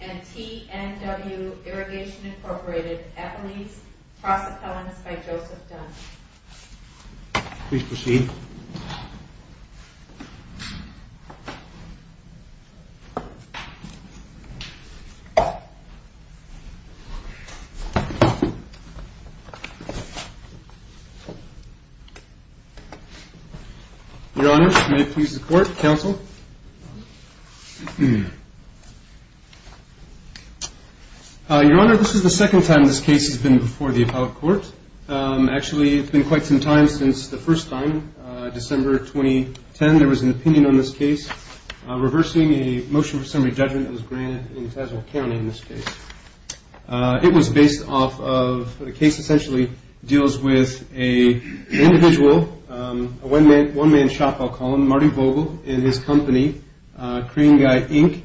and TNW Irrigation Incorporated, Eppley's, Proseccollins by Joseph Dunn. Please proceed. Your Honor, may it please the court, counsel. Your Honor, this is the second time this case has been before the appellate court. Actually, it's been quite some time since the first time, December 2010. There was an opinion on this case reversing a motion for summary judgment that was granted in Tazewell County in this case. It was based off of a case that essentially deals with an individual, a one-man shop, I'll call him, Marty Vogel and his company, Crane Guy, Inc.,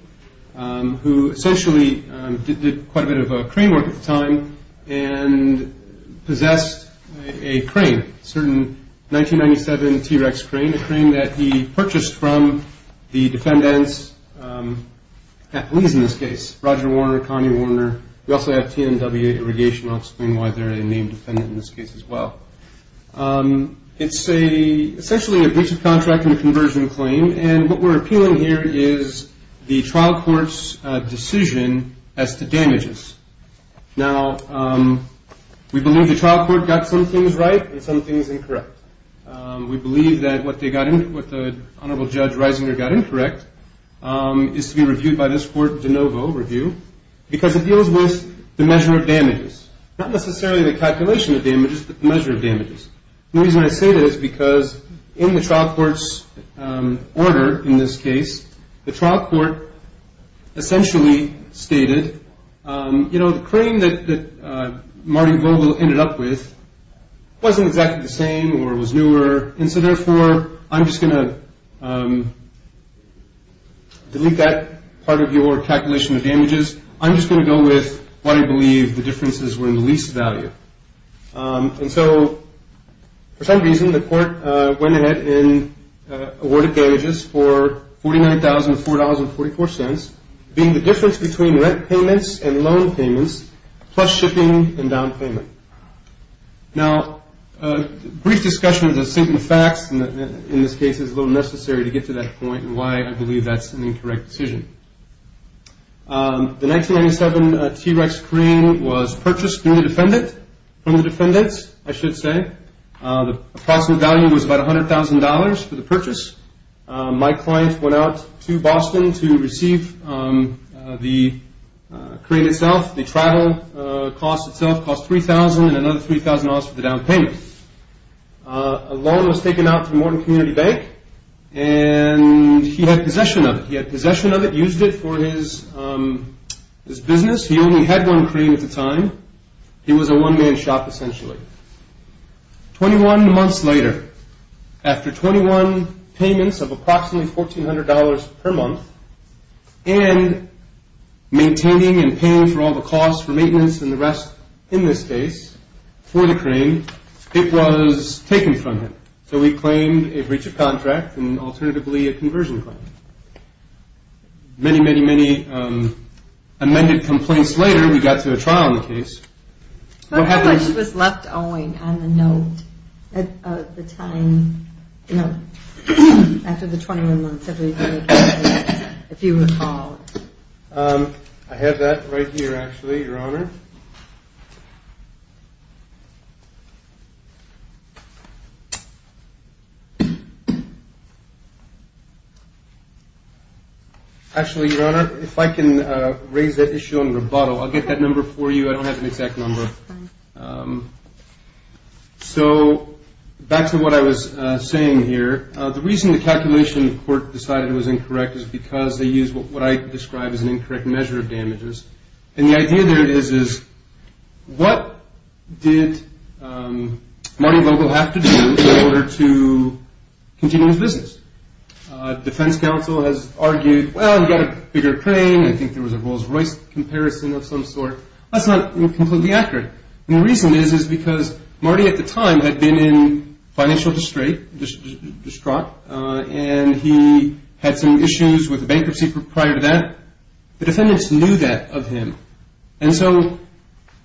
who essentially did quite a bit of crane work at the time and possessed a crane, a certain 1997 T-Rex crane, a crane that he purchased from the defendants, Eppley's in this case, Roger Warner, Connie Warner. We also have TNW Irrigation. I'll explain why they're a name defendant in this case as well. It's essentially a breach of contract and a conversion claim, and what we're appealing here is the trial court's decision as to damages. Now, we believe the trial court got some things right and some things incorrect. We believe that what the Honorable Judge Reisinger got incorrect is to be reviewed by this court de novo review because it deals with the measure of damages, not necessarily the calculation of damages, but the measure of damages. The reason I say that is because in the trial court's order in this case, the trial court essentially stated, you know, the crane that Marty Vogel ended up with wasn't exactly the same or was newer, and so, therefore, I'm just going to delete that part of your calculation of damages. I'm just going to go with what I believe the differences were in the least value. And so, for some reason, the court went ahead and awarded damages for $49,000 to $4,044, being the difference between rent payments and loan payments plus shipping and down payment. Now, a brief discussion of the facts in this case is a little necessary to get to that point and why I believe that's an incorrect decision. The 1997 T-Rex crane was purchased from the defendants, I should say. The approximate value was about $100,000 for the purchase. My client went out to Boston to receive the crane itself. The travel cost itself cost $3,000 and another $3,000 for the down payment. A loan was taken out from Morton Community Bank, and he had possession of it. He had possession of it, used it for his business. He only had one crane at the time. He was a one-man shop, essentially. Twenty-one months later, after 21 payments of approximately $1,400 per month and maintaining and paying for all the costs for maintenance and the rest in this case for the crane, it was taken from him. So he claimed a breach of contract and alternatively a conversion claim. Many, many, many amended complaints later, we got to a trial on the case. What happened when she was left owing on the note at the time? No, after the 21 months, if you recall. I have that right here, actually, Your Honor. Actually, Your Honor, if I can raise that issue on rebuttal, I'll get that number for you. I don't have an exact number. So back to what I was saying here. The reason the calculation court decided it was incorrect is because they used what I describe as an incorrect measure of damages. And the idea there is what did Martin Vogel have to do in order to continue his business? Defense counsel has argued, well, you've got a bigger crane. I think there was a Rolls-Royce comparison of some sort. That's not completely accurate. And the reason is, is because Marty at the time had been in financial distraught, and he had some issues with bankruptcy prior to that. The defendants knew that of him. And so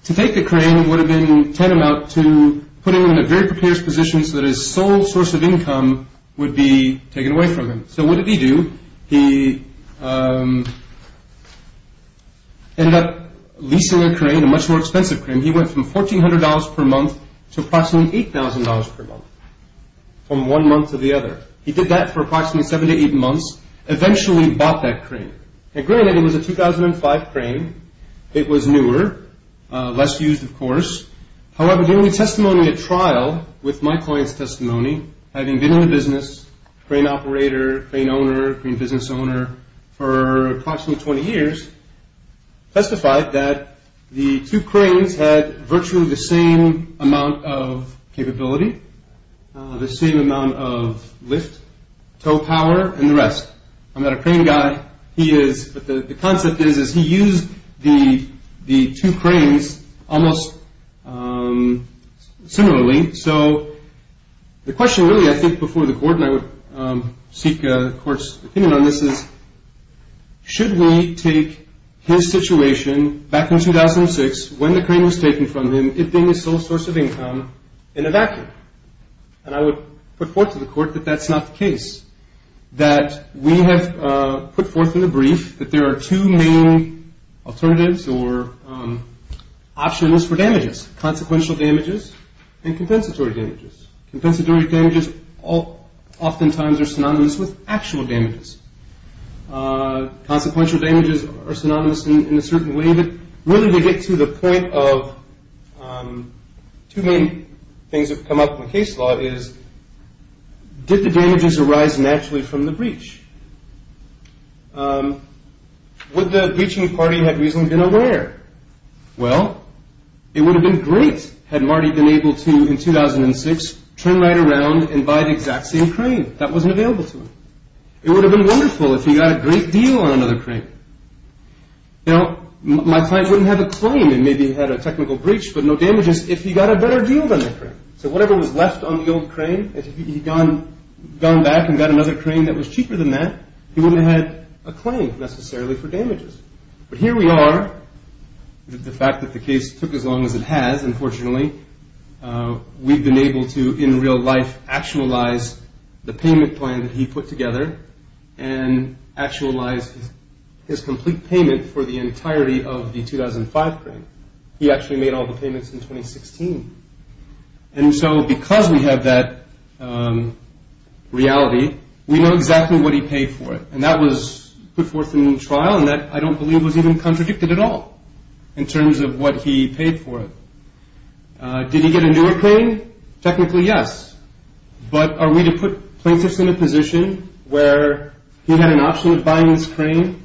to take the crane would have been tantamount to putting him in a very precarious position so that his sole source of income would be taken away from him. So what did he do? He ended up leasing a crane, a much more expensive crane. He went from $1,400 per month to approximately $8,000 per month from one month to the other. He did that for approximately seven to eight months, eventually bought that crane. Granted, it was a 2005 crane. It was newer, less used, of course. However, the only testimony at trial with my client's testimony, having been in the business, crane operator, crane owner, crane business owner, for approximately 20 years, testified that the two cranes had virtually the same amount of capability, the same amount of lift, tow power, and the rest. I'm not a crane guy. He is. But the concept is, is he used the two cranes almost similarly. So the question really I think before the court, and I would seek the court's opinion on this, is should we take his situation back in 2006 when the crane was taken from him, giving his sole source of income, and evacuate? And I would put forth to the court that that's not the case, that we have put forth in the brief that there are two main alternatives or options for damages, consequential damages and compensatory damages. Compensatory damages oftentimes are synonymous with actual damages. Consequential damages are synonymous in a certain way. But really to get to the point of two main things that have come up in the case law is, did the damages arise naturally from the breach? Would the breaching party have reasonably been aware? Well, it would have been great had Marty been able to, in 2006, turn right around and buy the exact same crane. That wasn't available to him. It would have been wonderful if he got a great deal on another crane. Now, my client wouldn't have a claim and maybe had a technical breach, but no damages if he got a better deal than the crane. So whatever was left on the old crane, if he had gone back and got another crane that was cheaper than that, he wouldn't have had a claim necessarily for damages. But here we are with the fact that the case took as long as it has, unfortunately. We've been able to, in real life, actualize the payment plan that he put together and actualize his complete payment for the entirety of the 2005 crane. He actually made all the payments in 2016. And so because we have that reality, we know exactly what he paid for it. And that was put forth in trial and that, I don't believe, was even contradicted at all in terms of what he paid for it. Did he get a newer crane? Technically, yes. But are we to put plaintiffs in a position where he had an option of buying this crane,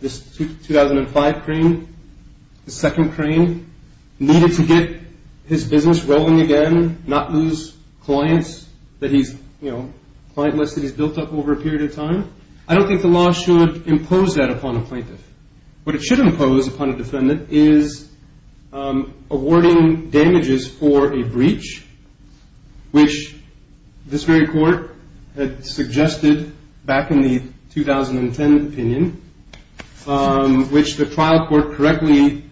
this 2005 crane, the second crane, needed to get his business rolling again, not lose clients that he's, you know, client lists that he's built up over a period of time? I don't think the law should impose that upon a plaintiff. What it should impose upon a defendant is awarding damages for a breach, which this very court had suggested back in the 2010 opinion, which the trial court correctly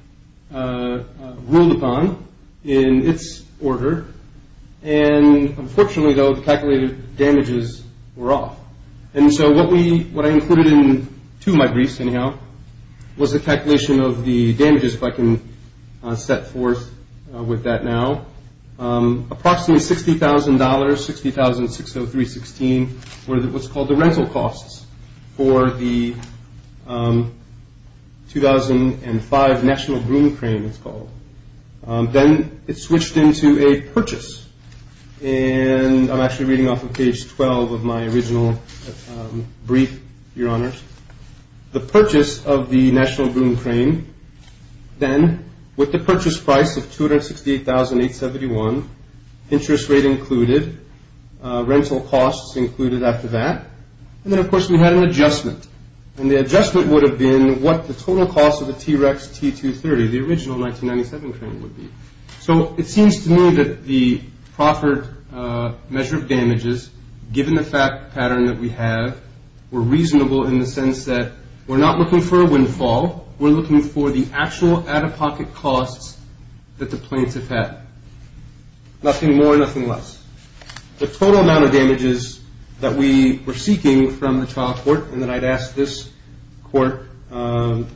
ruled upon in its order. And unfortunately, though, the calculated damages were off. And so what I included in two of my briefs, anyhow, was a calculation of the damages, if I can set forth with that now. Approximately $60,000, $60,603.16, were what's called the rental costs for the 2005 National Broom Crane, it's called. Then it switched into a purchase. And I'm actually reading off of page 12 of my original brief, Your Honors. The purchase of the National Broom Crane, then, with the purchase price of $268,871, interest rate included, rental costs included after that. And then, of course, we had an adjustment. And the adjustment would have been what the total cost of the T-Rex T-230, the original 1997 crane, would be. So it seems to me that the proffered measure of damages, given the pattern that we have, were reasonable in the sense that we're not looking for a windfall. We're looking for the actual out-of-pocket costs that the planes have had. Nothing more, nothing less. The total amount of damages that we were seeking from the trial court, and that I'd asked this court to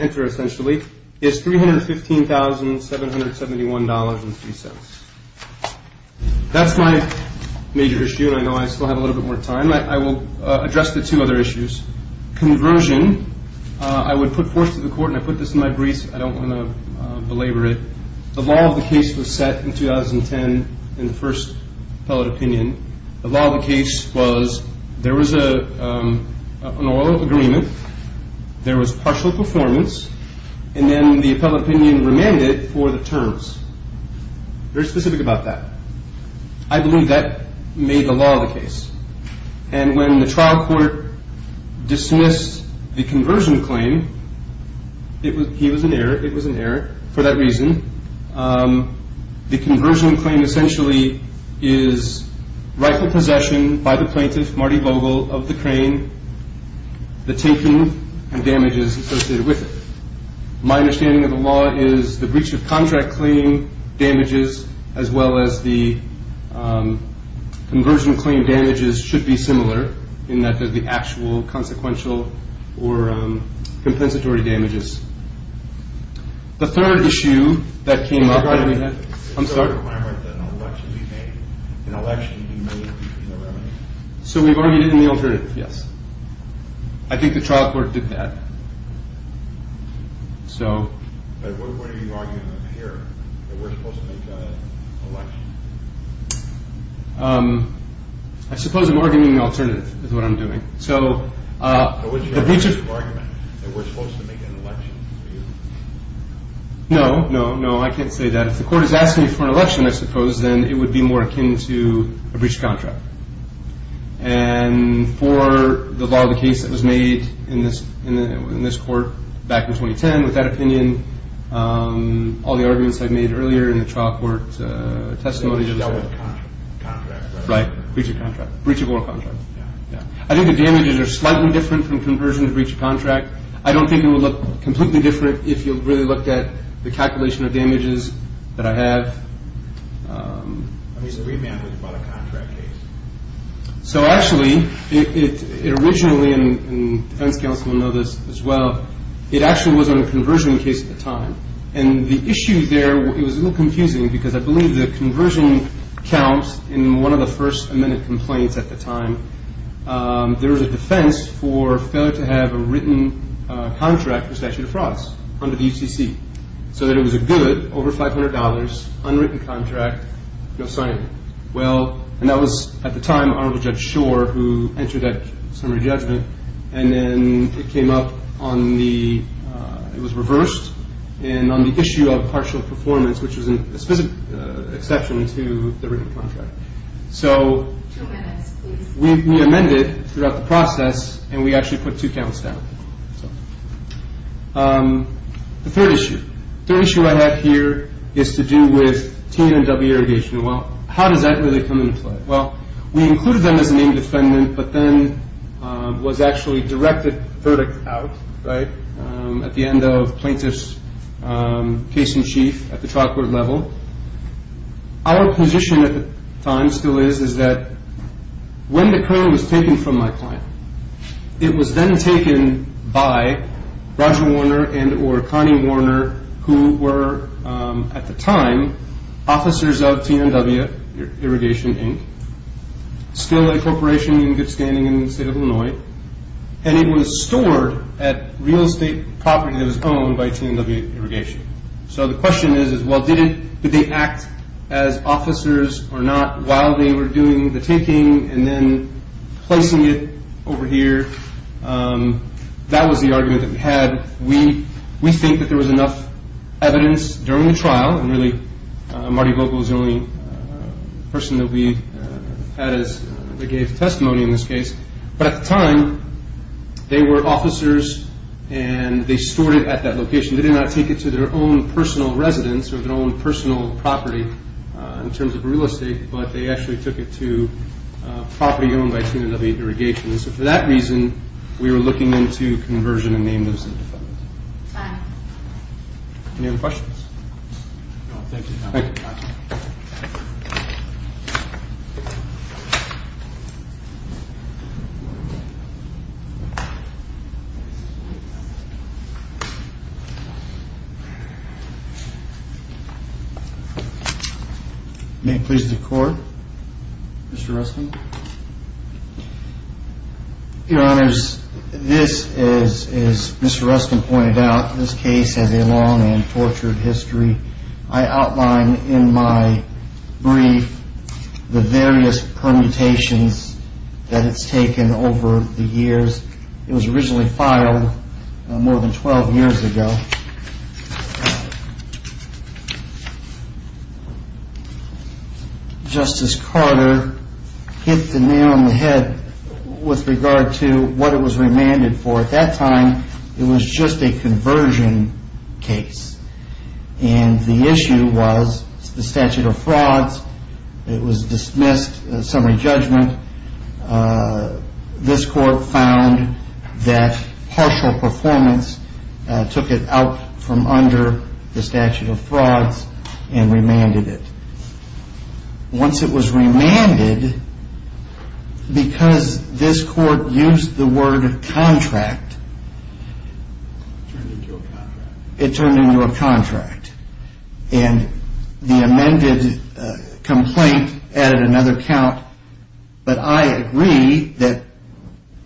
enter, essentially, is $315,771.03. That's my major issue. I know I still have a little bit more time. I will address the two other issues. Conversion. I would put forth to the court, and I put this in my brief. I don't want to belabor it. The law of the case was set in 2010 in the first appellate opinion. The law of the case was there was an oral agreement. There was partial performance. And then the appellate opinion remanded for the terms. Very specific about that. I believe that made the law of the case. And when the trial court dismissed the conversion claim, it was an error. It was an error for that reason. The conversion claim, essentially, is rightful possession by the plaintiff, Marty Vogel, of the crane, the tanking, and damages associated with it. My understanding of the law is the breach of contract claim damages, as well as the conversion claim damages, should be similar, in that they're the actual consequential or compensatory damages. The third issue that came up. I'm sorry? Is there a requirement that an election be made? An election be made in the remedy? So we've argued it in the alternative, yes. I think the trial court did that. But what are you arguing here? That we're supposed to make an election? I suppose I'm arguing the alternative is what I'm doing. But wasn't your argument that we're supposed to make an election for you? No, no, no. I can't say that. If the court is asking you for an election, I suppose, then it would be more akin to a breach of contract. And for the law of the case that was made in this court back in 2010, with that opinion, all the arguments I made earlier in the trial court testimony. Right. Breach of contract. Breach of oral contract. I don't think it would look completely different if you really looked at the calculation of damages that I have. I mean, it's a remand, but it's about a contract case. So actually, it originally, and defense counsel will know this as well, it actually was on a conversion case at the time. And the issue there, it was a little confusing because I believe the conversion counts in one of the first amended complaints at the time. There was a defense for failure to have a written contract for statute of frauds under the UCC, so that it was a good, over $500, unwritten contract, no signing. Well, and that was, at the time, Honorable Judge Schor, who entered that summary judgment. And then it came up on the, it was reversed, and on the issue of partial performance, which was a specific exception to the written contract. So. Two minutes, please. We amended throughout the process, and we actually put two counts down. The third issue. The third issue I have here is to do with T and W irrigation. Well, how does that really come into play? Well, we included them as a named defendant, but then was actually directed verdict out, right, at the end of plaintiff's case in chief at the trial court level. Our position at the time still is, is that when the current was taken from my client, it was then taken by Roger Warner and or Connie Warner, who were, at the time, officers of T and W Irrigation, Inc., still a corporation in good standing in the state of Illinois, and it was stored at real estate property that was owned by T and W Irrigation. So the question is, well, did they act as officers or not while they were doing the taking and then placing it over here? That was the argument that we had. We think that there was enough evidence during the trial, and really Marty Vogel was the only person that we had that gave testimony in this case. But at the time, they were officers, and they stored it at that location. They did not take it to their own personal residence or their own personal property in terms of real estate, but they actually took it to property owned by T and W Irrigation. So for that reason, we were looking into conversion and name those as defendants. Any other questions? Thank you, Your Honor. May it please the Court, Mr. Rustin. Your Honors, this, as Mr. Rustin pointed out, this case has a long and tortured history. I outline in my brief the various permutations that it's taken over the years. It was originally filed more than 12 years ago. Justice Carter hit the nail on the head with regard to what it was remanded for. At that time, it was just a conversion case, and the issue was the statute of frauds. It was dismissed, summary judgment. This Court found that partial performance took it out from under the statute of frauds and remanded it. Once it was remanded, because this Court used the word contract, it turned into a contract. The amended complaint added another count, but I agree that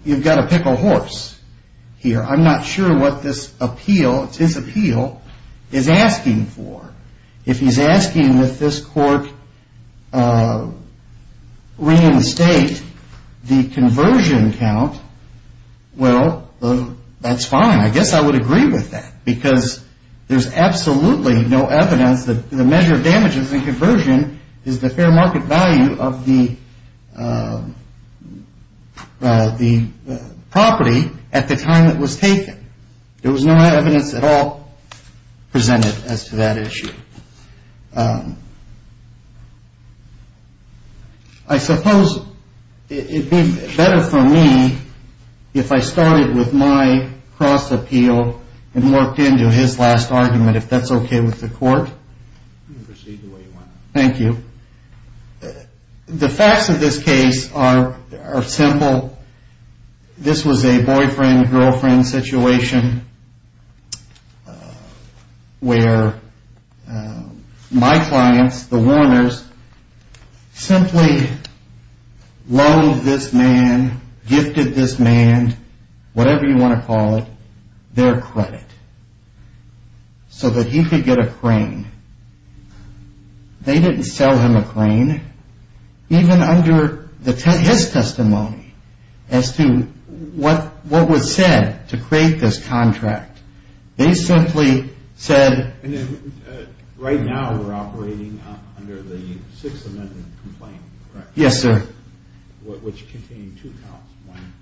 you've got to pick a horse here. I'm not sure what this appeal, his appeal, is asking for. If he's asking that this Court reinstate the conversion count, well, that's fine. I guess I would agree with that, because there's absolutely no evidence that the measure of damages in conversion is the fair market value of the property at the time it was taken. There was no evidence at all presented as to that issue. I suppose it would be better for me if I started with my cross-appeal and worked into his last argument, if that's okay with the Court. You can proceed the way you want. Thank you. The facts of this case are simple. This was a boyfriend-girlfriend situation where my clients, the Warners, simply loathed this man, gifted this man, whatever you want to call it, their credit, so that he could get a crane. They didn't sell him a crane, even under his testimony as to what was said to create this contract. They simply said... And then right now we're operating under the Sixth Amendment complaint, correct? Yes, sir. Which contained two counts, one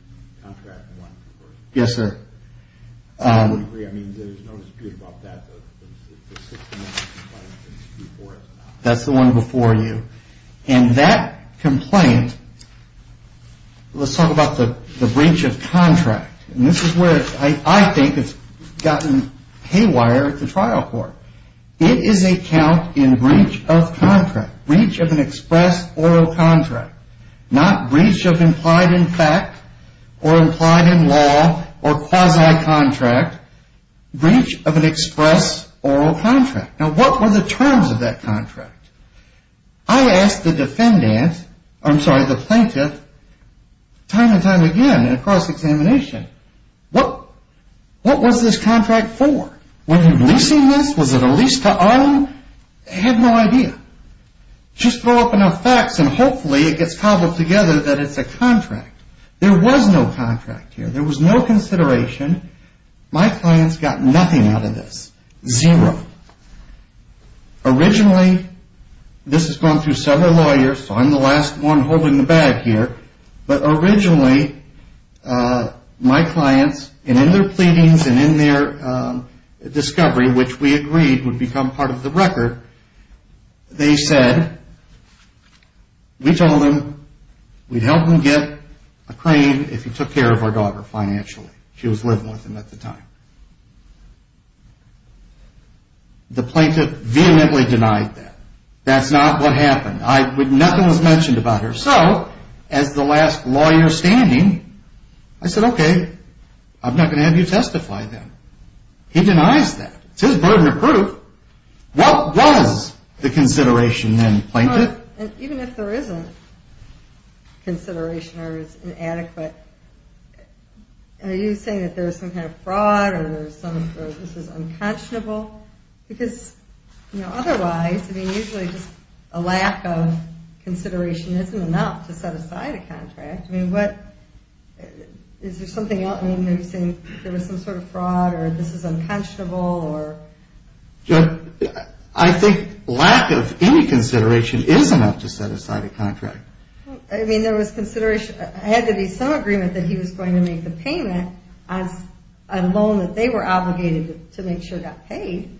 contract and one conversion. Yes, sir. I would agree. I mean, there's no dispute about that, but the Sixth Amendment complaint is a dispute for us now. That's the one before you. And that complaint, let's talk about the breach of contract. And this is where I think it's gotten haywire at the trial court. It is a count in breach of contract, breach of an express oil contract, not breach of implied in fact or implied in law or quasi-contract, breach of an express oil contract. Now, what were the terms of that contract? I asked the defendant, I'm sorry, the plaintiff, time and time again in a cross-examination, what was this contract for? Was it leasing this? Was it a lease to Ireland? They had no idea. Just throw up enough facts and hopefully it gets cobbled together that it's a contract. There was no contract here. There was no consideration. My clients got nothing out of this. Zero. Originally, this has gone through several lawyers, so I'm the last one holding the bag here, but originally my clients, and in their pleadings and in their discovery, which we agreed would become part of the record, they said, we told them we'd help them get a claim if he took care of our daughter financially. She was living with him at the time. The plaintiff vehemently denied that. That's not what happened. Nothing was mentioned about her. So, as the last lawyer standing, I said, okay, I'm not going to have you testify then. He denies that. It's his burden of proof. What was the consideration then, plaintiff? Even if there isn't consideration or it's inadequate, are you saying that there was some kind of fraud or this is unconscionable? Because otherwise, usually just a lack of consideration isn't enough to set aside a contract. Is there something else? Are you saying there was some sort of fraud or this is unconscionable? I think lack of any consideration is enough to set aside a contract. I mean, there was consideration. It had to be some agreement that he was going to make the payment on a loan that they were obligated to make sure got paid.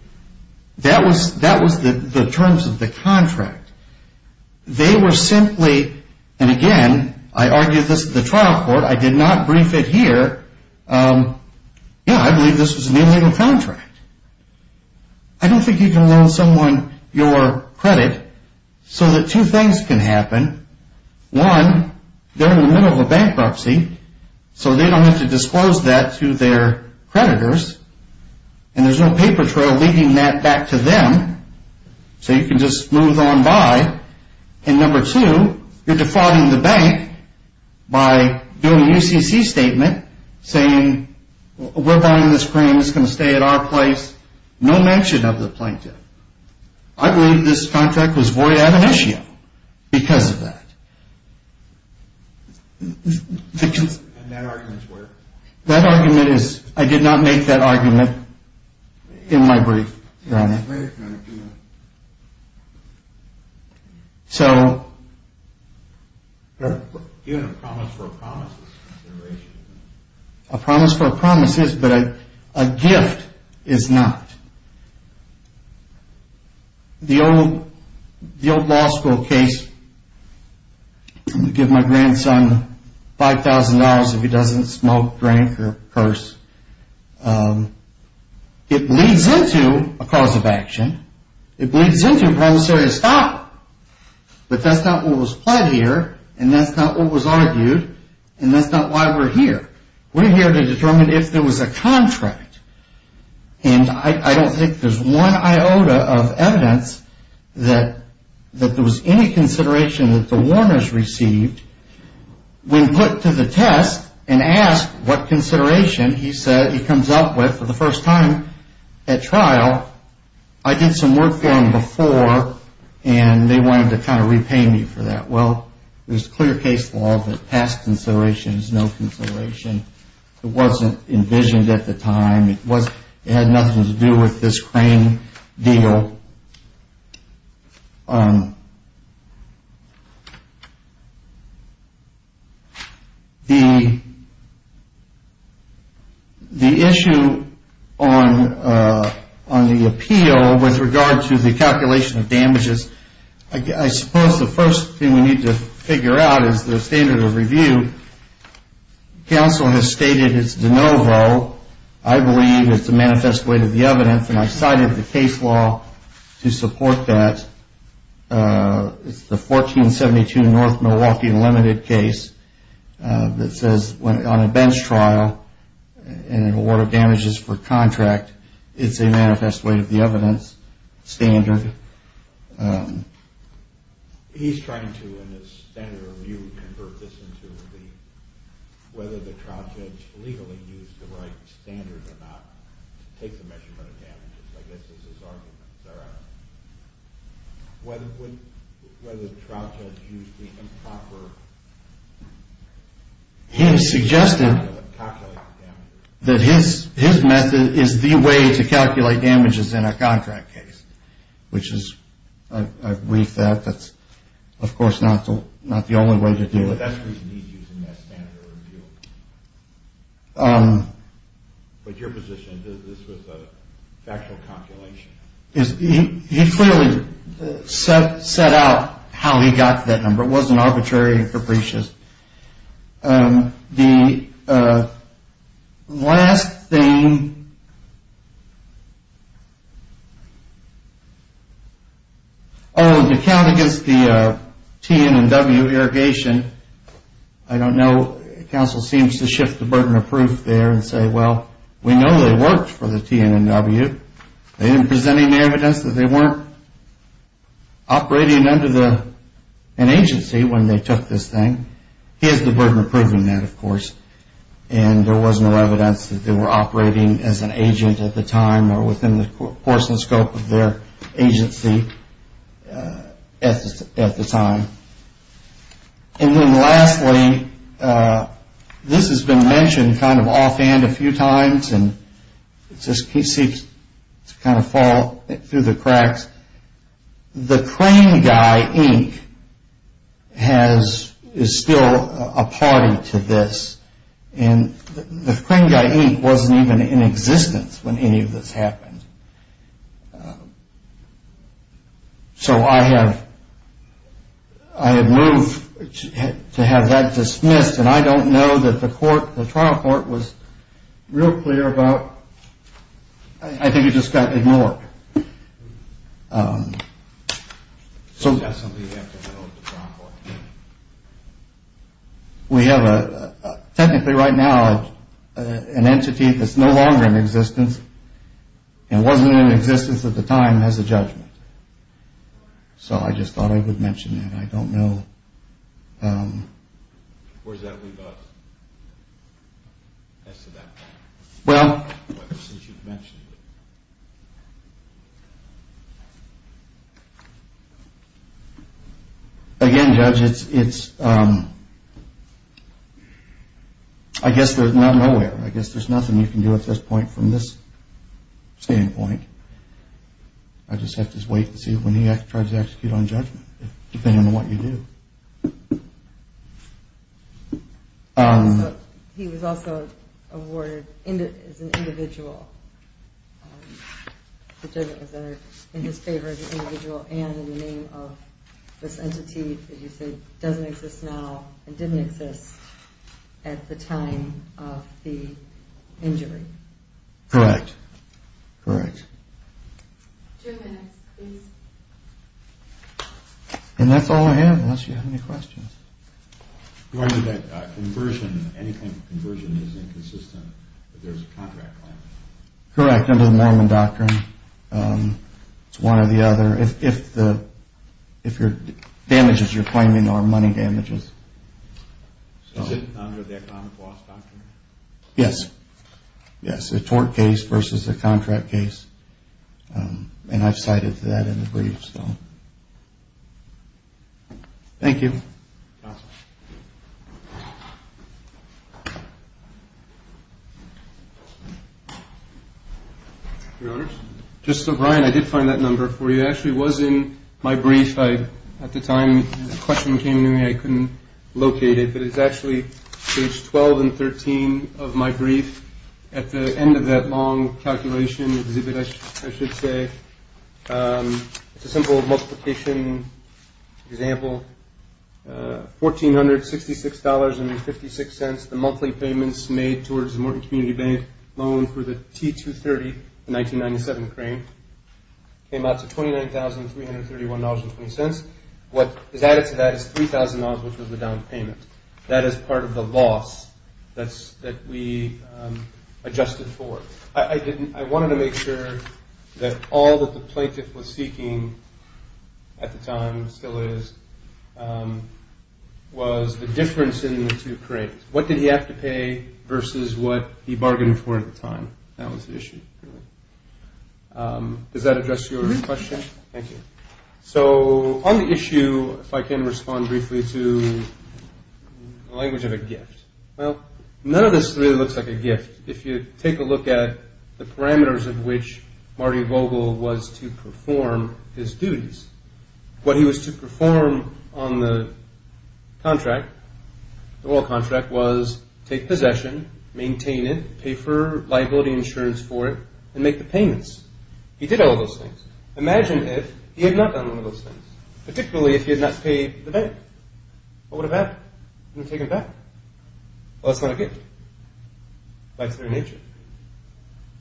That was the terms of the contract. They were simply, and again, I argued this at the trial court. I did not brief it here. Yeah, I believe this was an illegal contract. I don't think you can loan someone your credit so that two things can happen. One, they're in the middle of a bankruptcy, so they don't have to disclose that to their creditors, and there's no paper trail leading that back to them, so you can just move on by. And number two, you're defrauding the bank by doing a UCC statement saying, we're buying this crane. It's going to stay at our place. No mention of the plaintiff. I believe this contract was void ad initio because of that. And that argument is where? That argument is, I did not make that argument in my brief. So. A promise for a promise is, but a gift is not. The old law school case, give my grandson $5,000 if he doesn't smoke, drink, or curse. It leads into a cause of action. It leads into a promissory stop. But that's not what was pled here, and that's not what was argued, and that's not why we're here. We're here to determine if there was a contract. And I don't think there's one iota of evidence that there was any consideration that the Warners received. When put to the test and asked what consideration he said he comes up with for the first time at trial, I did some work for him before, and they wanted to kind of repay me for that. Well, there's clear case law that past consideration is no consideration. It wasn't envisioned at the time. It had nothing to do with this crane deal. The issue on the appeal with regard to the calculation of damages, I suppose the first thing we need to figure out is the standard of review. Counsel has stated it's de novo. I believe it's a manifest weight of the evidence, and I cited the case law to support that. It's the 1472 North Milwaukee Unlimited case that says on a bench trial and an award of damages for contract, it's a manifest weight of the evidence standard. He's trying to, in his standard of review, convert this into whether the trial judge legally used the right standard or not to take the measurement of damages, I guess is his argument. Is that right? Whether the trial judge used the improper method of calculating damages. He suggested that his method is the way to calculate damages in a contract case, which is, I've briefed that. That's, of course, not the only way to do it. That's the reason he's using that standard of review. But your position is this was a factual calculation. He clearly set out how he got to that number. It wasn't arbitrary and capricious. The last thing, oh, to count against the TNNW irrigation, I don't know, counsel seems to shift the burden of proof there and say, well, we know they worked for the TNNW. They didn't present any evidence that they weren't operating under an agency when they took this thing. He has the burden of proving that, of course. And there was no evidence that they were operating as an agent at the time or within the course and scope of their agency at the time. And then lastly, this has been mentioned kind of offhand a few times, the Crane Guy Inc. is still a party to this. And the Crane Guy Inc. wasn't even in existence when any of this happened. So I have moved to have that dismissed, and I don't know that the court, the trial court, was real clear about. I think it just got ignored. So we have a, technically right now, an entity that's no longer in existence and wasn't in existence at the time has a judgment. So I just thought I would mention that. I don't know. Where does that leave us as to that point? Well. Since you've mentioned it. Again, Judge, it's, I guess there's not nowhere. I guess there's nothing you can do at this point from this standpoint. I just have to wait and see when he tries to execute on judgment, depending on what you do. He was also awarded as an individual. The judgment was entered in his favor as an individual and in the name of this entity that you said doesn't exist now and didn't exist at the time of the injury. Correct. Correct. Two minutes, please. And that's all I have unless you have any questions. Do I know that conversion, any kind of conversion is inconsistent if there's a contract claim? Correct, under the Norman Doctrine. It's one or the other. If the damages you're claiming are money damages. Is it under the economic loss doctrine? Yes. Yes, a tort case versus a contract case. And I've cited that in the brief, so. Thank you. You're welcome. Your Honors. Just so, Brian, I did find that number for you. It actually was in my brief. At the time the question came to me, I couldn't locate it. It's actually page 12 and 13 of my brief. At the end of that long calculation exhibit, I should say, it's a simple multiplication example. $1,466.56, the monthly payments made towards the Morton Community Bank loan for the T-230, the 1997 crane, came out to $29,331.20. What is added to that is $3,000, which was the down payment. That is part of the loss that we adjusted for. I wanted to make sure that all that the plaintiff was seeking at the time, still is, was the difference in the two cranes. What did he have to pay versus what he bargained for at the time? That was the issue. Does that address your question? Thank you. On the issue, if I can respond briefly to the language of a gift. None of this really looks like a gift. If you take a look at the parameters of which Marty Vogel was to perform his duties, what he was to perform on the oil contract was take possession, maintain it, pay for liability insurance for it, and make the payments. He did all those things. Imagine if he had not done all those things, particularly if he had not paid the bank. What would have happened? He would have been taken aback. Well, that's not a gift by its very nature.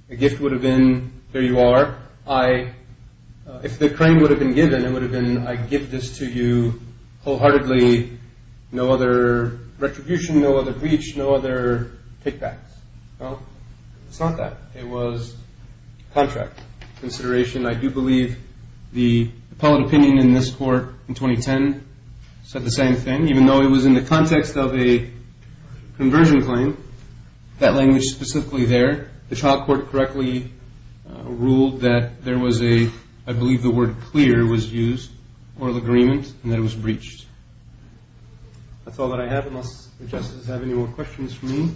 A gift would have been, there you are. If the crane would have been given, it would have been, I give this to you wholeheartedly, no other retribution, no other breach, no other kickbacks. No, it's not that. It was contract consideration. I do believe the appellate opinion in this court in 2010 said the same thing. Even though it was in the context of a conversion claim, that language specifically there, the child court correctly ruled that there was a, I believe the word clear was used, oral agreement, and that it was breached. That's all that I have unless the justices have any more questions for me.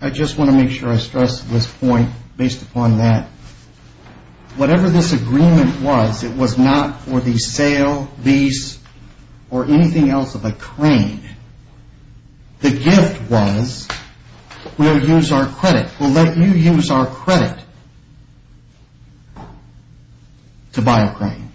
I just want to make sure I stress this point based upon that. Whatever this agreement was, it was not for the sale, lease, or anything else of a crane. The gift was, we'll use our credit. We'll let you use our credit to buy a crane.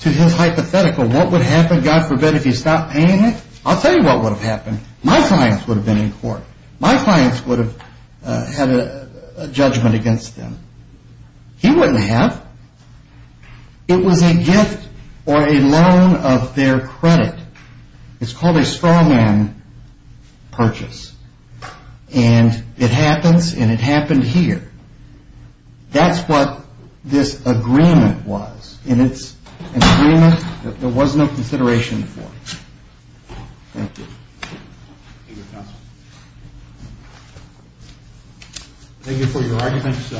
To his hypothetical, what would happen, God forbid, if he stopped paying it? I'll tell you what would have happened. My clients would have been in court. My clients would have had a judgment against them. He wouldn't have. It was a gift or a loan of their credit. It's called a straw man purchase. And it happens, and it happened here. That's what this agreement was, and it's an agreement that there was no consideration for. Thank you. Thank you, counsel. Thank you for your arguments.